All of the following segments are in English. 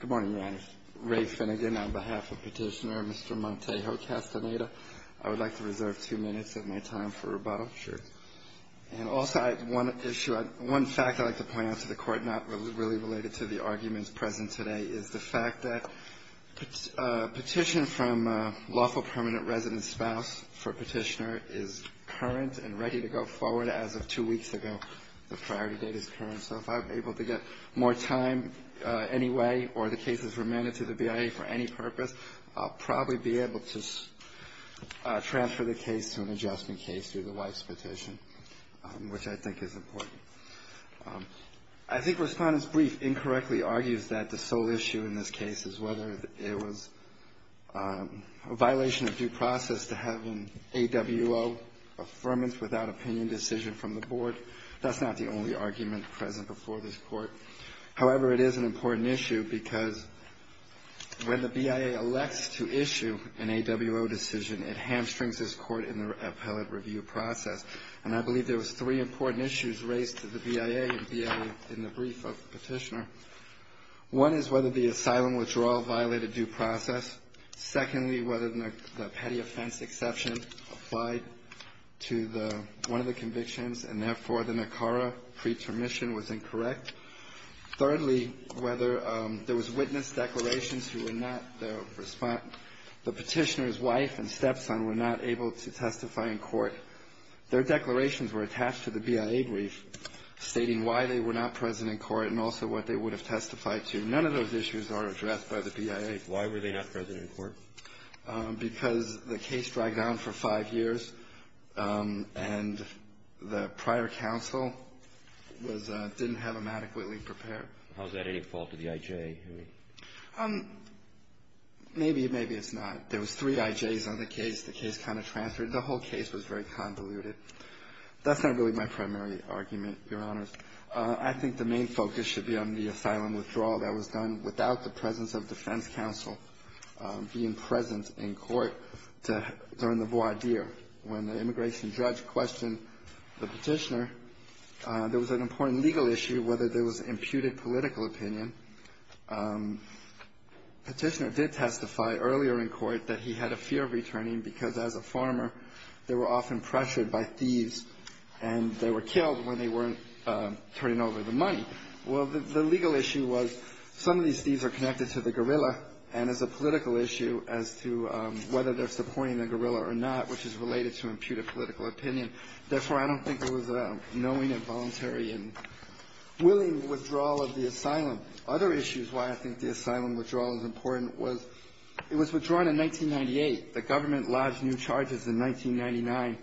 Good morning, Your Honor. Ray Finnegan on behalf of Petitioner, Mr. Montejo-Castaneda. I would like to reserve two minutes of my time for rebuttal. Sure. And also I have one issue, one fact I'd like to point out to the Court, not really related to the arguments present today, is the fact that a petition from a lawful permanent resident spouse for Petitioner is current and ready to go forward as of two weeks ago. The priority date is current, so if I'm able to get more time anyway or the case is remanded to the BIA for any purpose, I'll probably be able to transfer the case to an adjustment case through the wife's petition, which I think is important. I think Respondent's brief incorrectly argues that the sole issue in this case is whether it was a violation of due process to have an AWO affirmance without opinion decision from the Board. That's not the only argument present before this Court. However, it is an important issue because when the BIA elects to issue an AWO decision, it hamstrings this Court in the appellate review process. And I believe there was three important issues raised to the BIA in the brief of Petitioner. One is whether the asylum withdrawal violated due process. Secondly, whether the petty offense exception applied to the one of the convictions, and therefore, the NACARA pretermission was incorrect. Thirdly, whether there was witness declarations who were not the Respondent, the Petitioner's wife and stepson were not able to testify in court. Their declarations were attached to the BIA brief stating why they were not present in court and also what they would have testified to. None of those issues are addressed by the BIA. Why were they not present in court? Because the case dragged on for five years, and the prior counsel didn't have them adequately prepared. How is that any fault of the IJ? Maybe, maybe it's not. There was three IJs on the case. The case kind of transferred. The whole case was very convoluted. That's not really my primary argument, Your Honors. I think the main focus should be on the asylum withdrawal that was done without the presence of defense counsel being present in court during the voir dire. When the immigration judge questioned the Petitioner, there was an important legal issue whether there was imputed political opinion. Petitioner did testify earlier in court that he had a fear of returning because, as a farmer, they were often pressured by thieves, and they were killed when they weren't turning over the money. Well, the legal issue was some of these thieves are connected to the guerrilla, and it's a political issue as to whether they're supporting the guerrilla or not, which is related to imputed political opinion. Therefore, I don't think it was a knowing and voluntary and willing withdrawal of the asylum. Other issues why I think the asylum withdrawal is important was it was withdrawn in 1998. The government lodged new charges in 1999,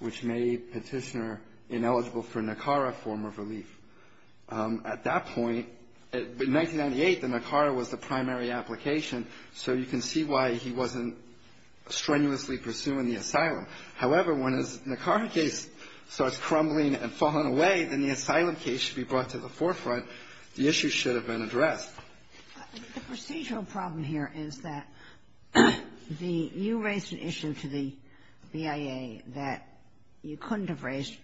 which made Petitioner ineligible for NACARA form of relief. At that point, in 1998, the NACARA was the primary application, so you can see why he wasn't strenuously pursuing the asylum. However, when his NACARA case starts crumbling and falling away, then the asylum case should be brought to the forefront. The issue should have been addressed. The procedural problem here is that you raised an issue to the BIA that you couldn't have raised.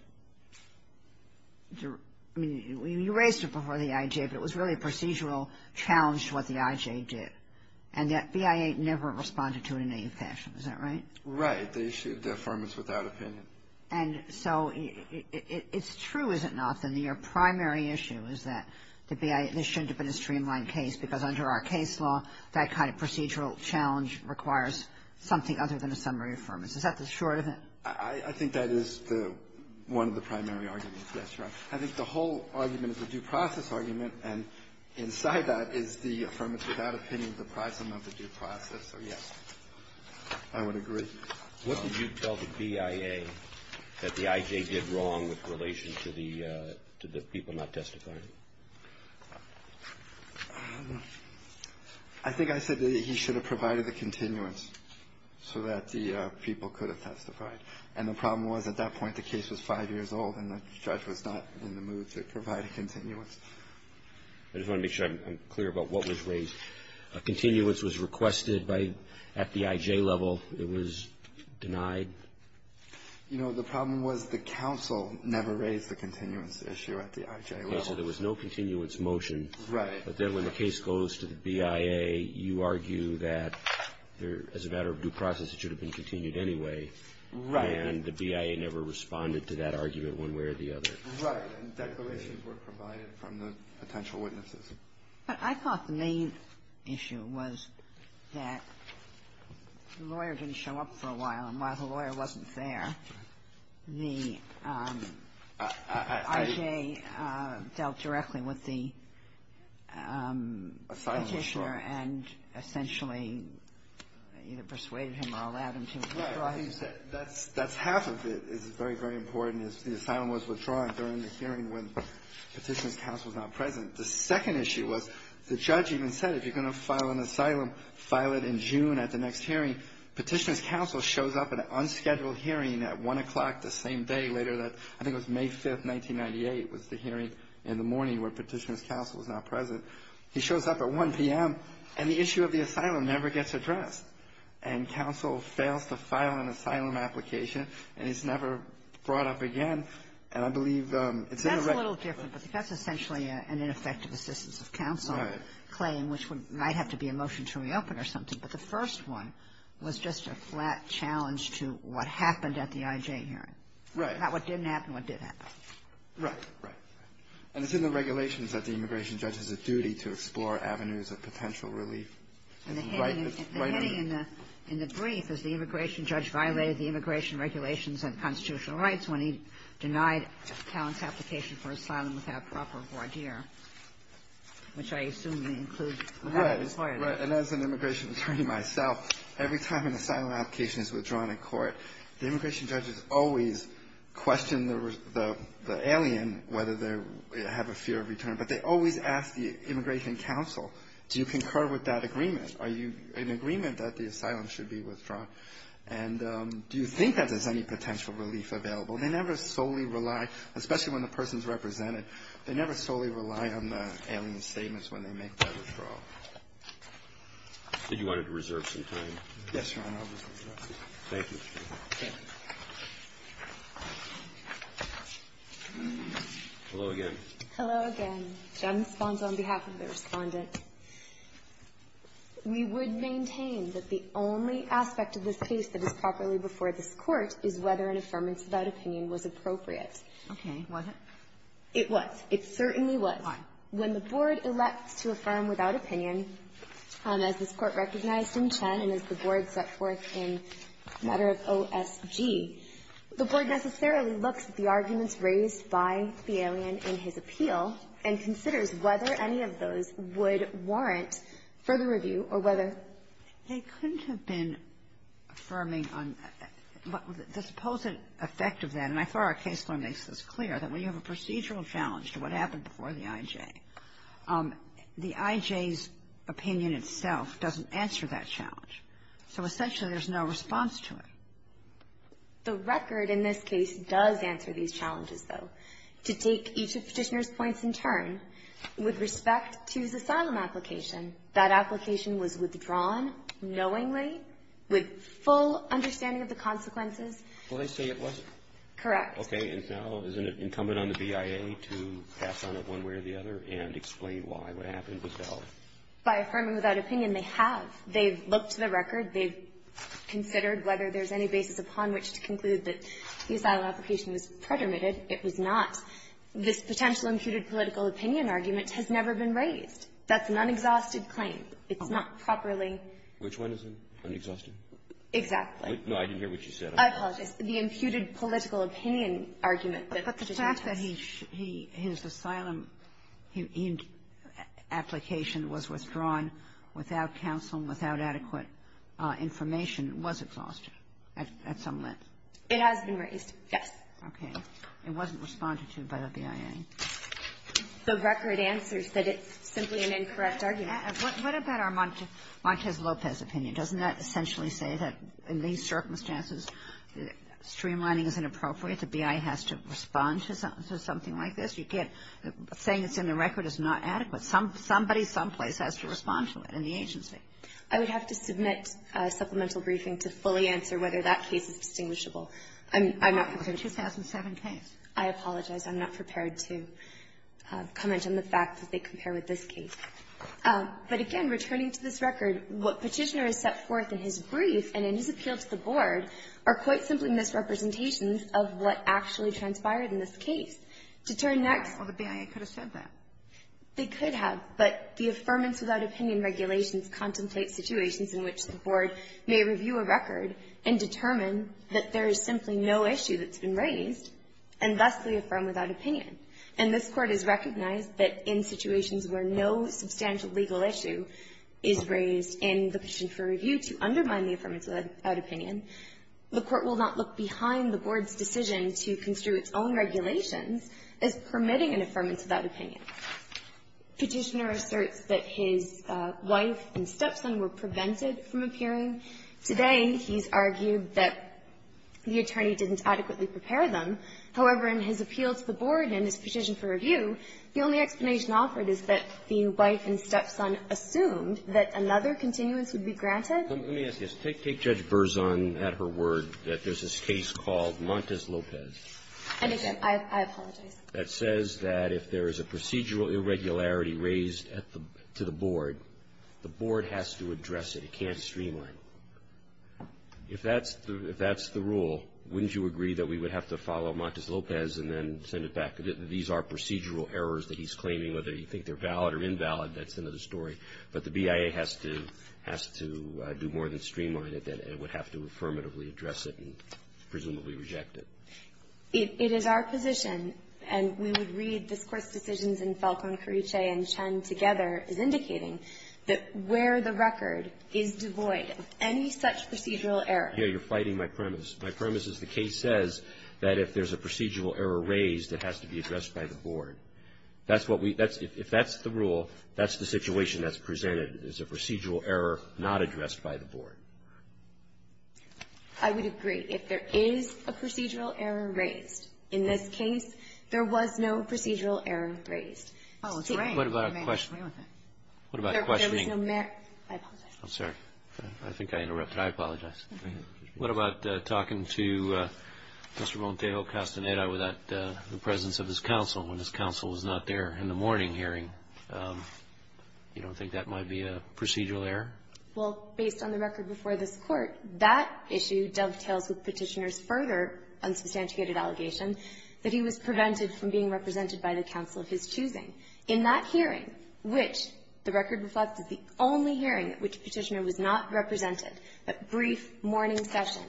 I mean, you raised it before the IJ, but it was really a procedural challenge to what the IJ did, and yet BIA never responded to it in any fashion. Is that right? Right. The issue of deferment is without opinion. And so it's true, is it not, that your primary issue is that the BIA, this shouldn't have been a streamlined case because under our case law, that kind of procedural challenge requires something other than a summary affirmance. Is that the short of it? I think that is the one of the primary arguments. Yes, Your Honor. I think the whole argument is a due process argument, and inside that is the affirmance without opinion, the prism of the due process. So, yes, I would agree. What did you tell the BIA that the IJ did wrong with relation to the people not testifying? I think I said that he should have provided the continuance so that the people could have testified. And the problem was at that point the case was five years old, and the judge was not in the mood to provide a continuance. I just want to make sure I'm clear about what was raised. A continuance was requested at the IJ level. It was denied? You know, the problem was the counsel never raised the continuance issue at the IJ level. Okay. So there was no continuance motion. Right. But then when the case goes to the BIA, you argue that as a matter of due process it should have been continued anyway. Right. And the BIA never responded to that argument one way or the other. Right. And declarations were provided from the potential witnesses. But I thought the main issue was that the lawyer didn't show up for a while. And while the lawyer wasn't there, the IJ dealt directly with the Petitioner and essentially either persuaded him or allowed him to withdraw. That's half of it. It's very, very important. The assignment was withdrawn during the hearing when Petitioner's counsel was not present. The second issue was the judge even said, if you're going to file an asylum, file it in June at the next hearing. Petitioner's counsel shows up at an unscheduled hearing at 1 o'clock the same day later that I think it was May 5th, 1998 was the hearing in the morning where Petitioner's counsel was not present. He shows up at 1 p.m., and the issue of the asylum never gets addressed. And counsel fails to file an asylum application, and it's never brought up again. And I believe it's in the record. But that's essentially an ineffective assistance of counsel claim, which might have to be a motion to reopen or something. But the first one was just a flat challenge to what happened at the IJ hearing. Right. Not what didn't happen, what did happen. Right. Right. And it's in the regulations that the immigration judge has a duty to explore avenues of potential relief. And the hinting in the brief is the immigration judge violated the immigration regulations and constitutional rights when he denied Talent's application for asylum without proper voir dire, which I assume may include the federal court. Right. And as an immigration attorney myself, every time an asylum application is withdrawn in court, the immigration judges always question the alien whether they have a fear of return. But they always ask the immigration counsel, do you concur with that agreement? Are you in agreement that the asylum should be withdrawn? And do you think that there's any potential relief available? They never solely rely, especially when the person's represented, they never solely rely on the alien's statements when they make that withdrawal. Did you want to reserve some time? Yes, Your Honor. I'll reserve some time. Thank you. Okay. Hello again. Hello again. Jen responds on behalf of the Respondent. We would maintain that the only aspect of this case that is properly before this court is whether an affirmance without opinion was appropriate. Okay. Was it? It was. It certainly was. Why? When the Board elects to affirm without opinion, as this Court recognized in Chen and as the Board set forth in a matter of OSG, the Board necessarily looks at the arguments raised by the alien in his appeal and considers whether any of those would warrant further review or whether they couldn't have been affirming on the supposed effect of that. And I thought our case law makes this clear, that when you have a procedural challenge to what happened before the IJ, the IJ's opinion itself doesn't answer that challenge. So essentially, there's no response to it. The record in this case does answer these challenges, though. To take each of Petitioner's points in turn, with respect to his asylum application, that application was withdrawn knowingly with full understanding of the consequences. Well, they say it wasn't. Correct. Okay. And now, isn't it incumbent on the BIA to pass on it one way or the other and explain why what happened with Bell? By affirming without opinion, they have. They've looked to the record. They've considered whether there's any basis upon which to conclude that the asylum application was predominated. It was not. This potential imputed political opinion argument has never been raised. That's an unexhausted claim. It's not properly ---- Which one is it? Unexhausted? Exactly. No, I didn't hear what you said. I apologize. The imputed political opinion argument that Petitioner took. But the fact that he ---- his asylum application was withdrawn without counsel and without adequate information was exhausted at some length. It has been raised. Yes. Okay. It wasn't responded to by the BIA. The record answers that it's simply an incorrect argument. What about our Montez Lopez opinion? Doesn't that essentially say that in these circumstances, streamlining is inappropriate, the BIA has to respond to something like this? You can't ---- saying it's in the record is not adequate. Somebody someplace has to respond to it in the agency. I would have to submit a supplemental briefing to fully answer whether that case is distinguishable. I'm not prepared to ---- The 2007 case. I apologize. I'm not prepared to comment on the fact that they compare with this case. But, again, returning to this record, what Petitioner has set forth in his brief and in his appeal to the Board are quite simply misrepresentations of what actually transpired in this case. To turn next ---- Well, the BIA could have said that. They could have. But the Affirmance Without Opinion regulations contemplate situations in which the there's simply no issue that's been raised, and thus we affirm without opinion. And this Court has recognized that in situations where no substantial legal issue is raised in the petition for review to undermine the Affirmance Without Opinion, the Court will not look behind the Board's decision to construe its own regulations as permitting an Affirmance Without Opinion. Petitioner asserts that his wife and stepson were prevented from appearing. Today, he's argued that the attorney didn't adequately prepare them. However, in his appeal to the Board and in his petition for review, the only explanation offered is that the wife and stepson assumed that another continuance would be granted. Let me ask you this. Take Judge Berzon at her word that there's this case called Montes Lopez. And, again, I apologize. That says that if there is a procedural irregularity raised at the ---- to the Board, the Board has to address it. It can't streamline. If that's the rule, wouldn't you agree that we would have to follow Montes Lopez and then send it back? These are procedural errors that he's claiming. Whether you think they're valid or invalid, that's another story. But the BIA has to do more than streamline it. It would have to affirmatively address it and presumably reject it. It is our position, and we would read this Court's decisions in Falcone, Carriche, and Chen together, as indicating that where the record is devoid of any such procedural error. Here you're fighting my premise. My premise is the case says that if there's a procedural error raised, it has to be addressed by the Board. That's what we ---- that's ---- if that's the rule, that's the situation that's presented, is a procedural error not addressed by the Board. I would agree. If there is a procedural error raised, in this case, there was no procedural error raised. Oh, it's raining. What about questioning? What about questioning? There was no merit. I apologize. I'm sorry. I think I interrupted. I apologize. What about talking to Mr. Montejo Castaneda without the presence of his counsel when his counsel was not there in the morning hearing? You don't think that might be a procedural error? Well, based on the record before this Court, that issue dovetails with Petitioner's further unsubstantiated allegation that he was prevented from being represented by the counsel of his choosing. In that hearing, which the record reflects is the only hearing at which Petitioner was not represented, that brief morning session,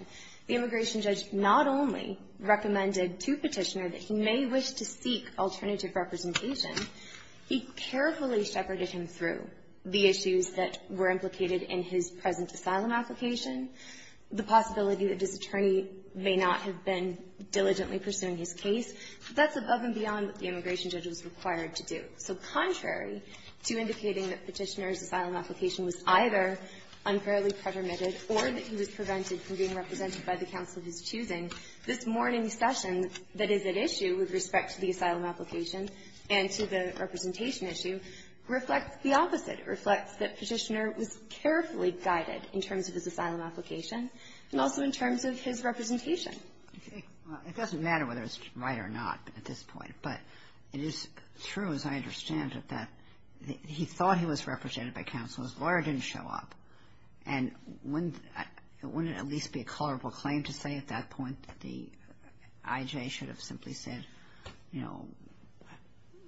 the immigration judge not only recommended to Petitioner that he may wish to seek alternative representation, he carefully shepherded him through the issues that were implicated in his present asylum application, the possibility that this immigration judge was required to do. So contrary to indicating that Petitioner's asylum application was either unfairly pretermitted or that he was prevented from being represented by the counsel of his choosing, this morning's session that is at issue with respect to the asylum application and to the representation issue reflects the opposite. It reflects that Petitioner was carefully guided in terms of his asylum application and also in terms of his representation. Well, it doesn't matter whether it's right or not at this point, but it is true, as I understand it, that he thought he was represented by counsel. His lawyer didn't show up, and it wouldn't at least be a colorable claim to say at that point that the IJ should have simply said, you know,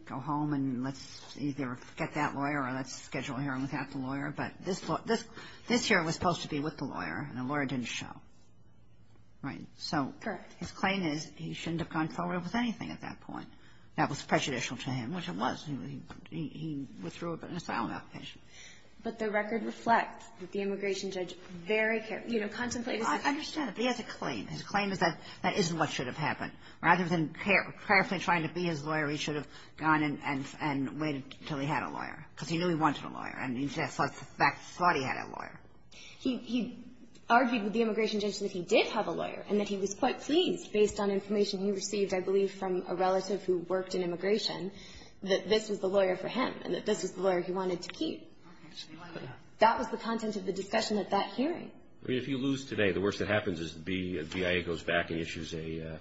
go home and let's either get that lawyer or let's schedule a hearing without the lawyer, but this year it was supposed to be with the lawyer, and the lawyer didn't show. Right? So his claim is he shouldn't have gone forward with anything at that point. That was prejudicial to him, which it was. He withdrew an asylum application. But the record reflects that the immigration judge very carefully, you know, contemplated his claim. I understand, but he has a claim. His claim is that that isn't what should have happened. Rather than carefully trying to be his lawyer, he should have gone and waited until he had a lawyer, because he knew he wanted a lawyer, and he thought he had a lawyer. He argued with the immigration judge that he did have a lawyer, and that he was quite pleased, based on information he received, I believe, from a relative who worked in immigration, that this was the lawyer for him, and that this was the lawyer he wanted to keep. That was the content of the discussion at that hearing. I mean, if you lose today, the worst that happens is the BIA goes back and issues an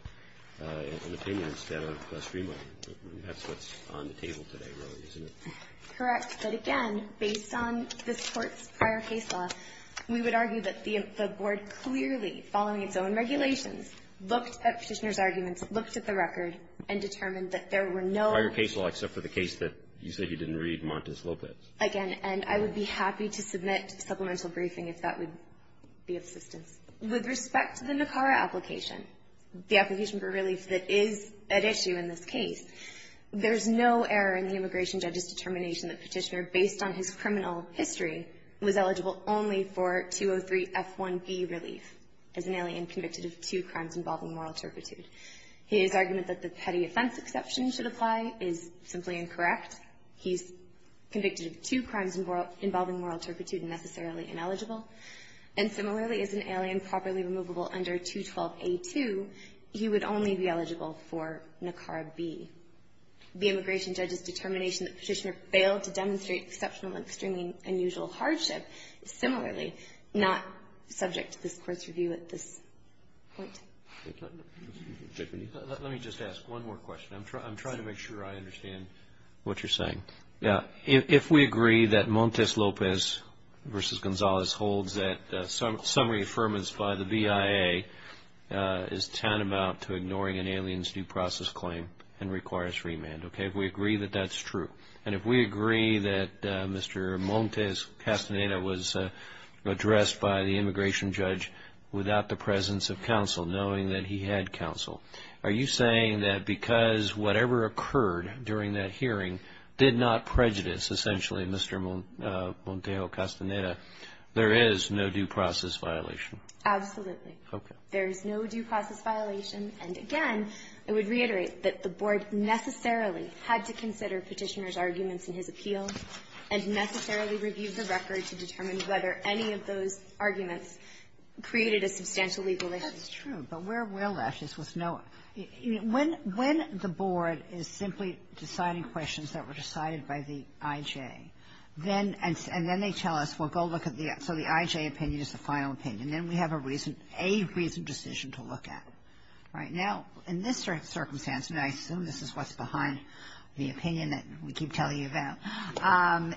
opinion instead of a streamlining. That's what's on the table today, really, isn't it? Correct. But, again, based on this Court's prior case law, we would argue that the board clearly, following its own regulations, looked at Petitioner's arguments, looked at the record, and determined that there were no other cases. Prior case law, except for the case that you say he didn't read, Montes Lopez. Again, and I would be happy to submit a supplemental briefing if that would be of assistance. With respect to the NACARA application, the application for relief that is at issue in this case, there's no error in the immigration judge's determination that Petitioner, based on his criminal history, was eligible only for 203F1B relief as an alien convicted of two crimes involving moral turpitude. His argument that the petty offense exception should apply is simply incorrect. He's convicted of two crimes involving moral turpitude and necessarily ineligible. And similarly, as an alien properly removable under 212A2, he would only be eligible for NACARA B. The immigration judge's determination that Petitioner failed to demonstrate exceptional and extremely unusual hardship is similarly not subject to this Court's review at this point. Let me just ask one more question. I'm trying to make sure I understand what you're saying. Yeah. If we agree that Montes Lopez v. Gonzalez holds that summary affirmance by the BIA is tantamount to ignoring an alien's due process claim and requires remand, okay, if we agree that that's true, and if we agree that Mr. Montes Castaneda was addressed by the immigration judge without the presence of counsel, knowing that he had counsel, are you saying that because whatever occurred during that hearing did not prejudice, essentially, Mr. Montes Castaneda, there is no due process violation? Absolutely. Okay. There is no due process violation. And again, I would reiterate that the Board necessarily had to consider Petitioner's arguments in his appeal and necessarily reviewed the record to determine whether any of those arguments created a substantial legal issue. That's true. But where we're left is with no ---- when the Board is simply deciding questions that were decided by the IJ, then they tell us, well, go look at the other. So the IJ opinion is the final opinion. Then we have a reason, a reasoned decision to look at. Right now, in this circumstance, and I assume this is what's behind the opinion that we keep telling you about,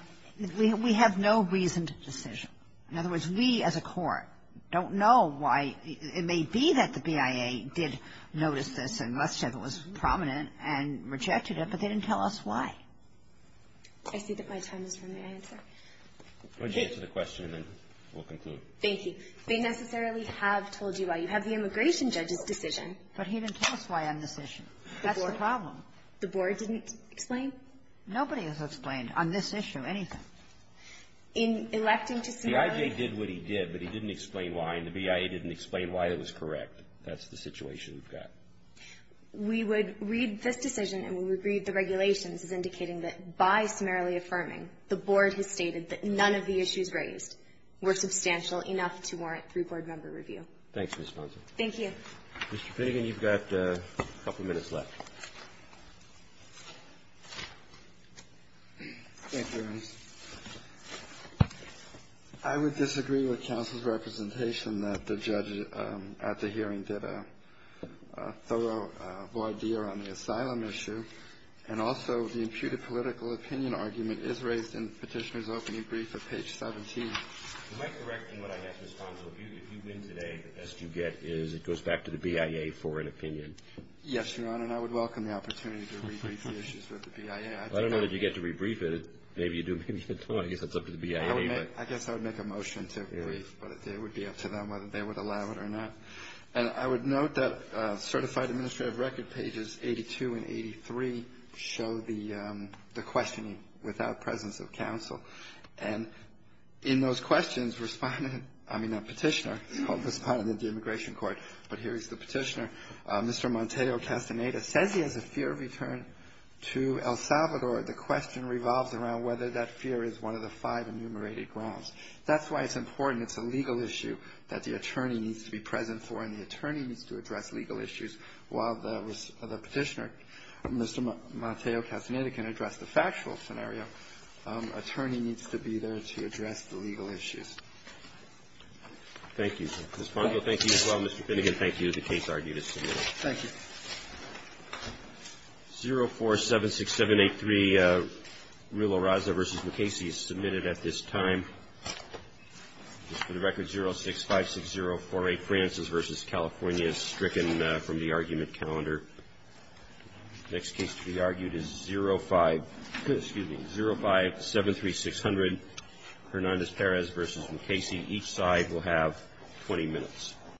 we have no reasoned decision. In other words, we, as a court, don't know why. It may be that the BIA did notice this and must have it was prominent and rejected it, but they didn't tell us why. I see that my time is running out. Go ahead and answer the question, and then we'll conclude. Thank you. They necessarily have told you why. You have the immigration judge's decision. But he didn't tell us why on this issue. That's the problem. The Board didn't explain? Nobody has explained on this issue anything. In electing to summarily ---- The IJ did what he did, but he didn't explain why. And the BIA didn't explain why it was correct. That's the situation we've got. We would read this decision and we would read the regulations as indicating that by summarily affirming, the Board has stated that none of the issues raised were substantial enough to warrant three-Board member review. Thanks, Ms. Ponson. Thank you. Mr. Pinnigan, you've got a couple minutes left. Thank you, Your Honor. I would disagree with counsel's representation that the judge at the hearing did a thorough review of the issue. And also, the imputed political opinion argument is raised in the petitioner's opening brief at page 17. Am I correct in what I guess, Ms. Ponson, if you win today, the best you get is it goes back to the BIA for an opinion? Yes, Your Honor. And I would welcome the opportunity to re-brief the issues with the BIA. I don't know that you get to re-brief it. Maybe you do. Maybe you don't. I guess that's up to the BIA. I guess I would make a motion to re-brief. But it would be up to them whether they would allow it or not. And I would note that Certified Administrative Record pages 82 and 83 show the questioning without presence of counsel. And in those questions, respondent, I mean, not petitioner, called respondent of the Immigration Court, but here is the petitioner, Mr. Monteo Castaneda, says he has a fear of return to El Salvador. The question revolves around whether that fear is one of the five enumerated grounds. That's why it's important. And it's a legal issue that the attorney needs to be present for. And the attorney needs to address legal issues while the petitioner, Mr. Monteo Castaneda, can address the factual scenario. Attorney needs to be there to address the legal issues. Thank you. Ms. Pongo, thank you as well. Mr. Finnegan, thank you. The case argued as submitted. Thank you. 0476783, Rilo Raza v. McCasey is submitted at this time. Just for the record, 0656048, Francis v. California is stricken from the argument calendar. Next case to be argued is 0573600, Hernandez Perez v. McCasey. Each side will have 20 minutes.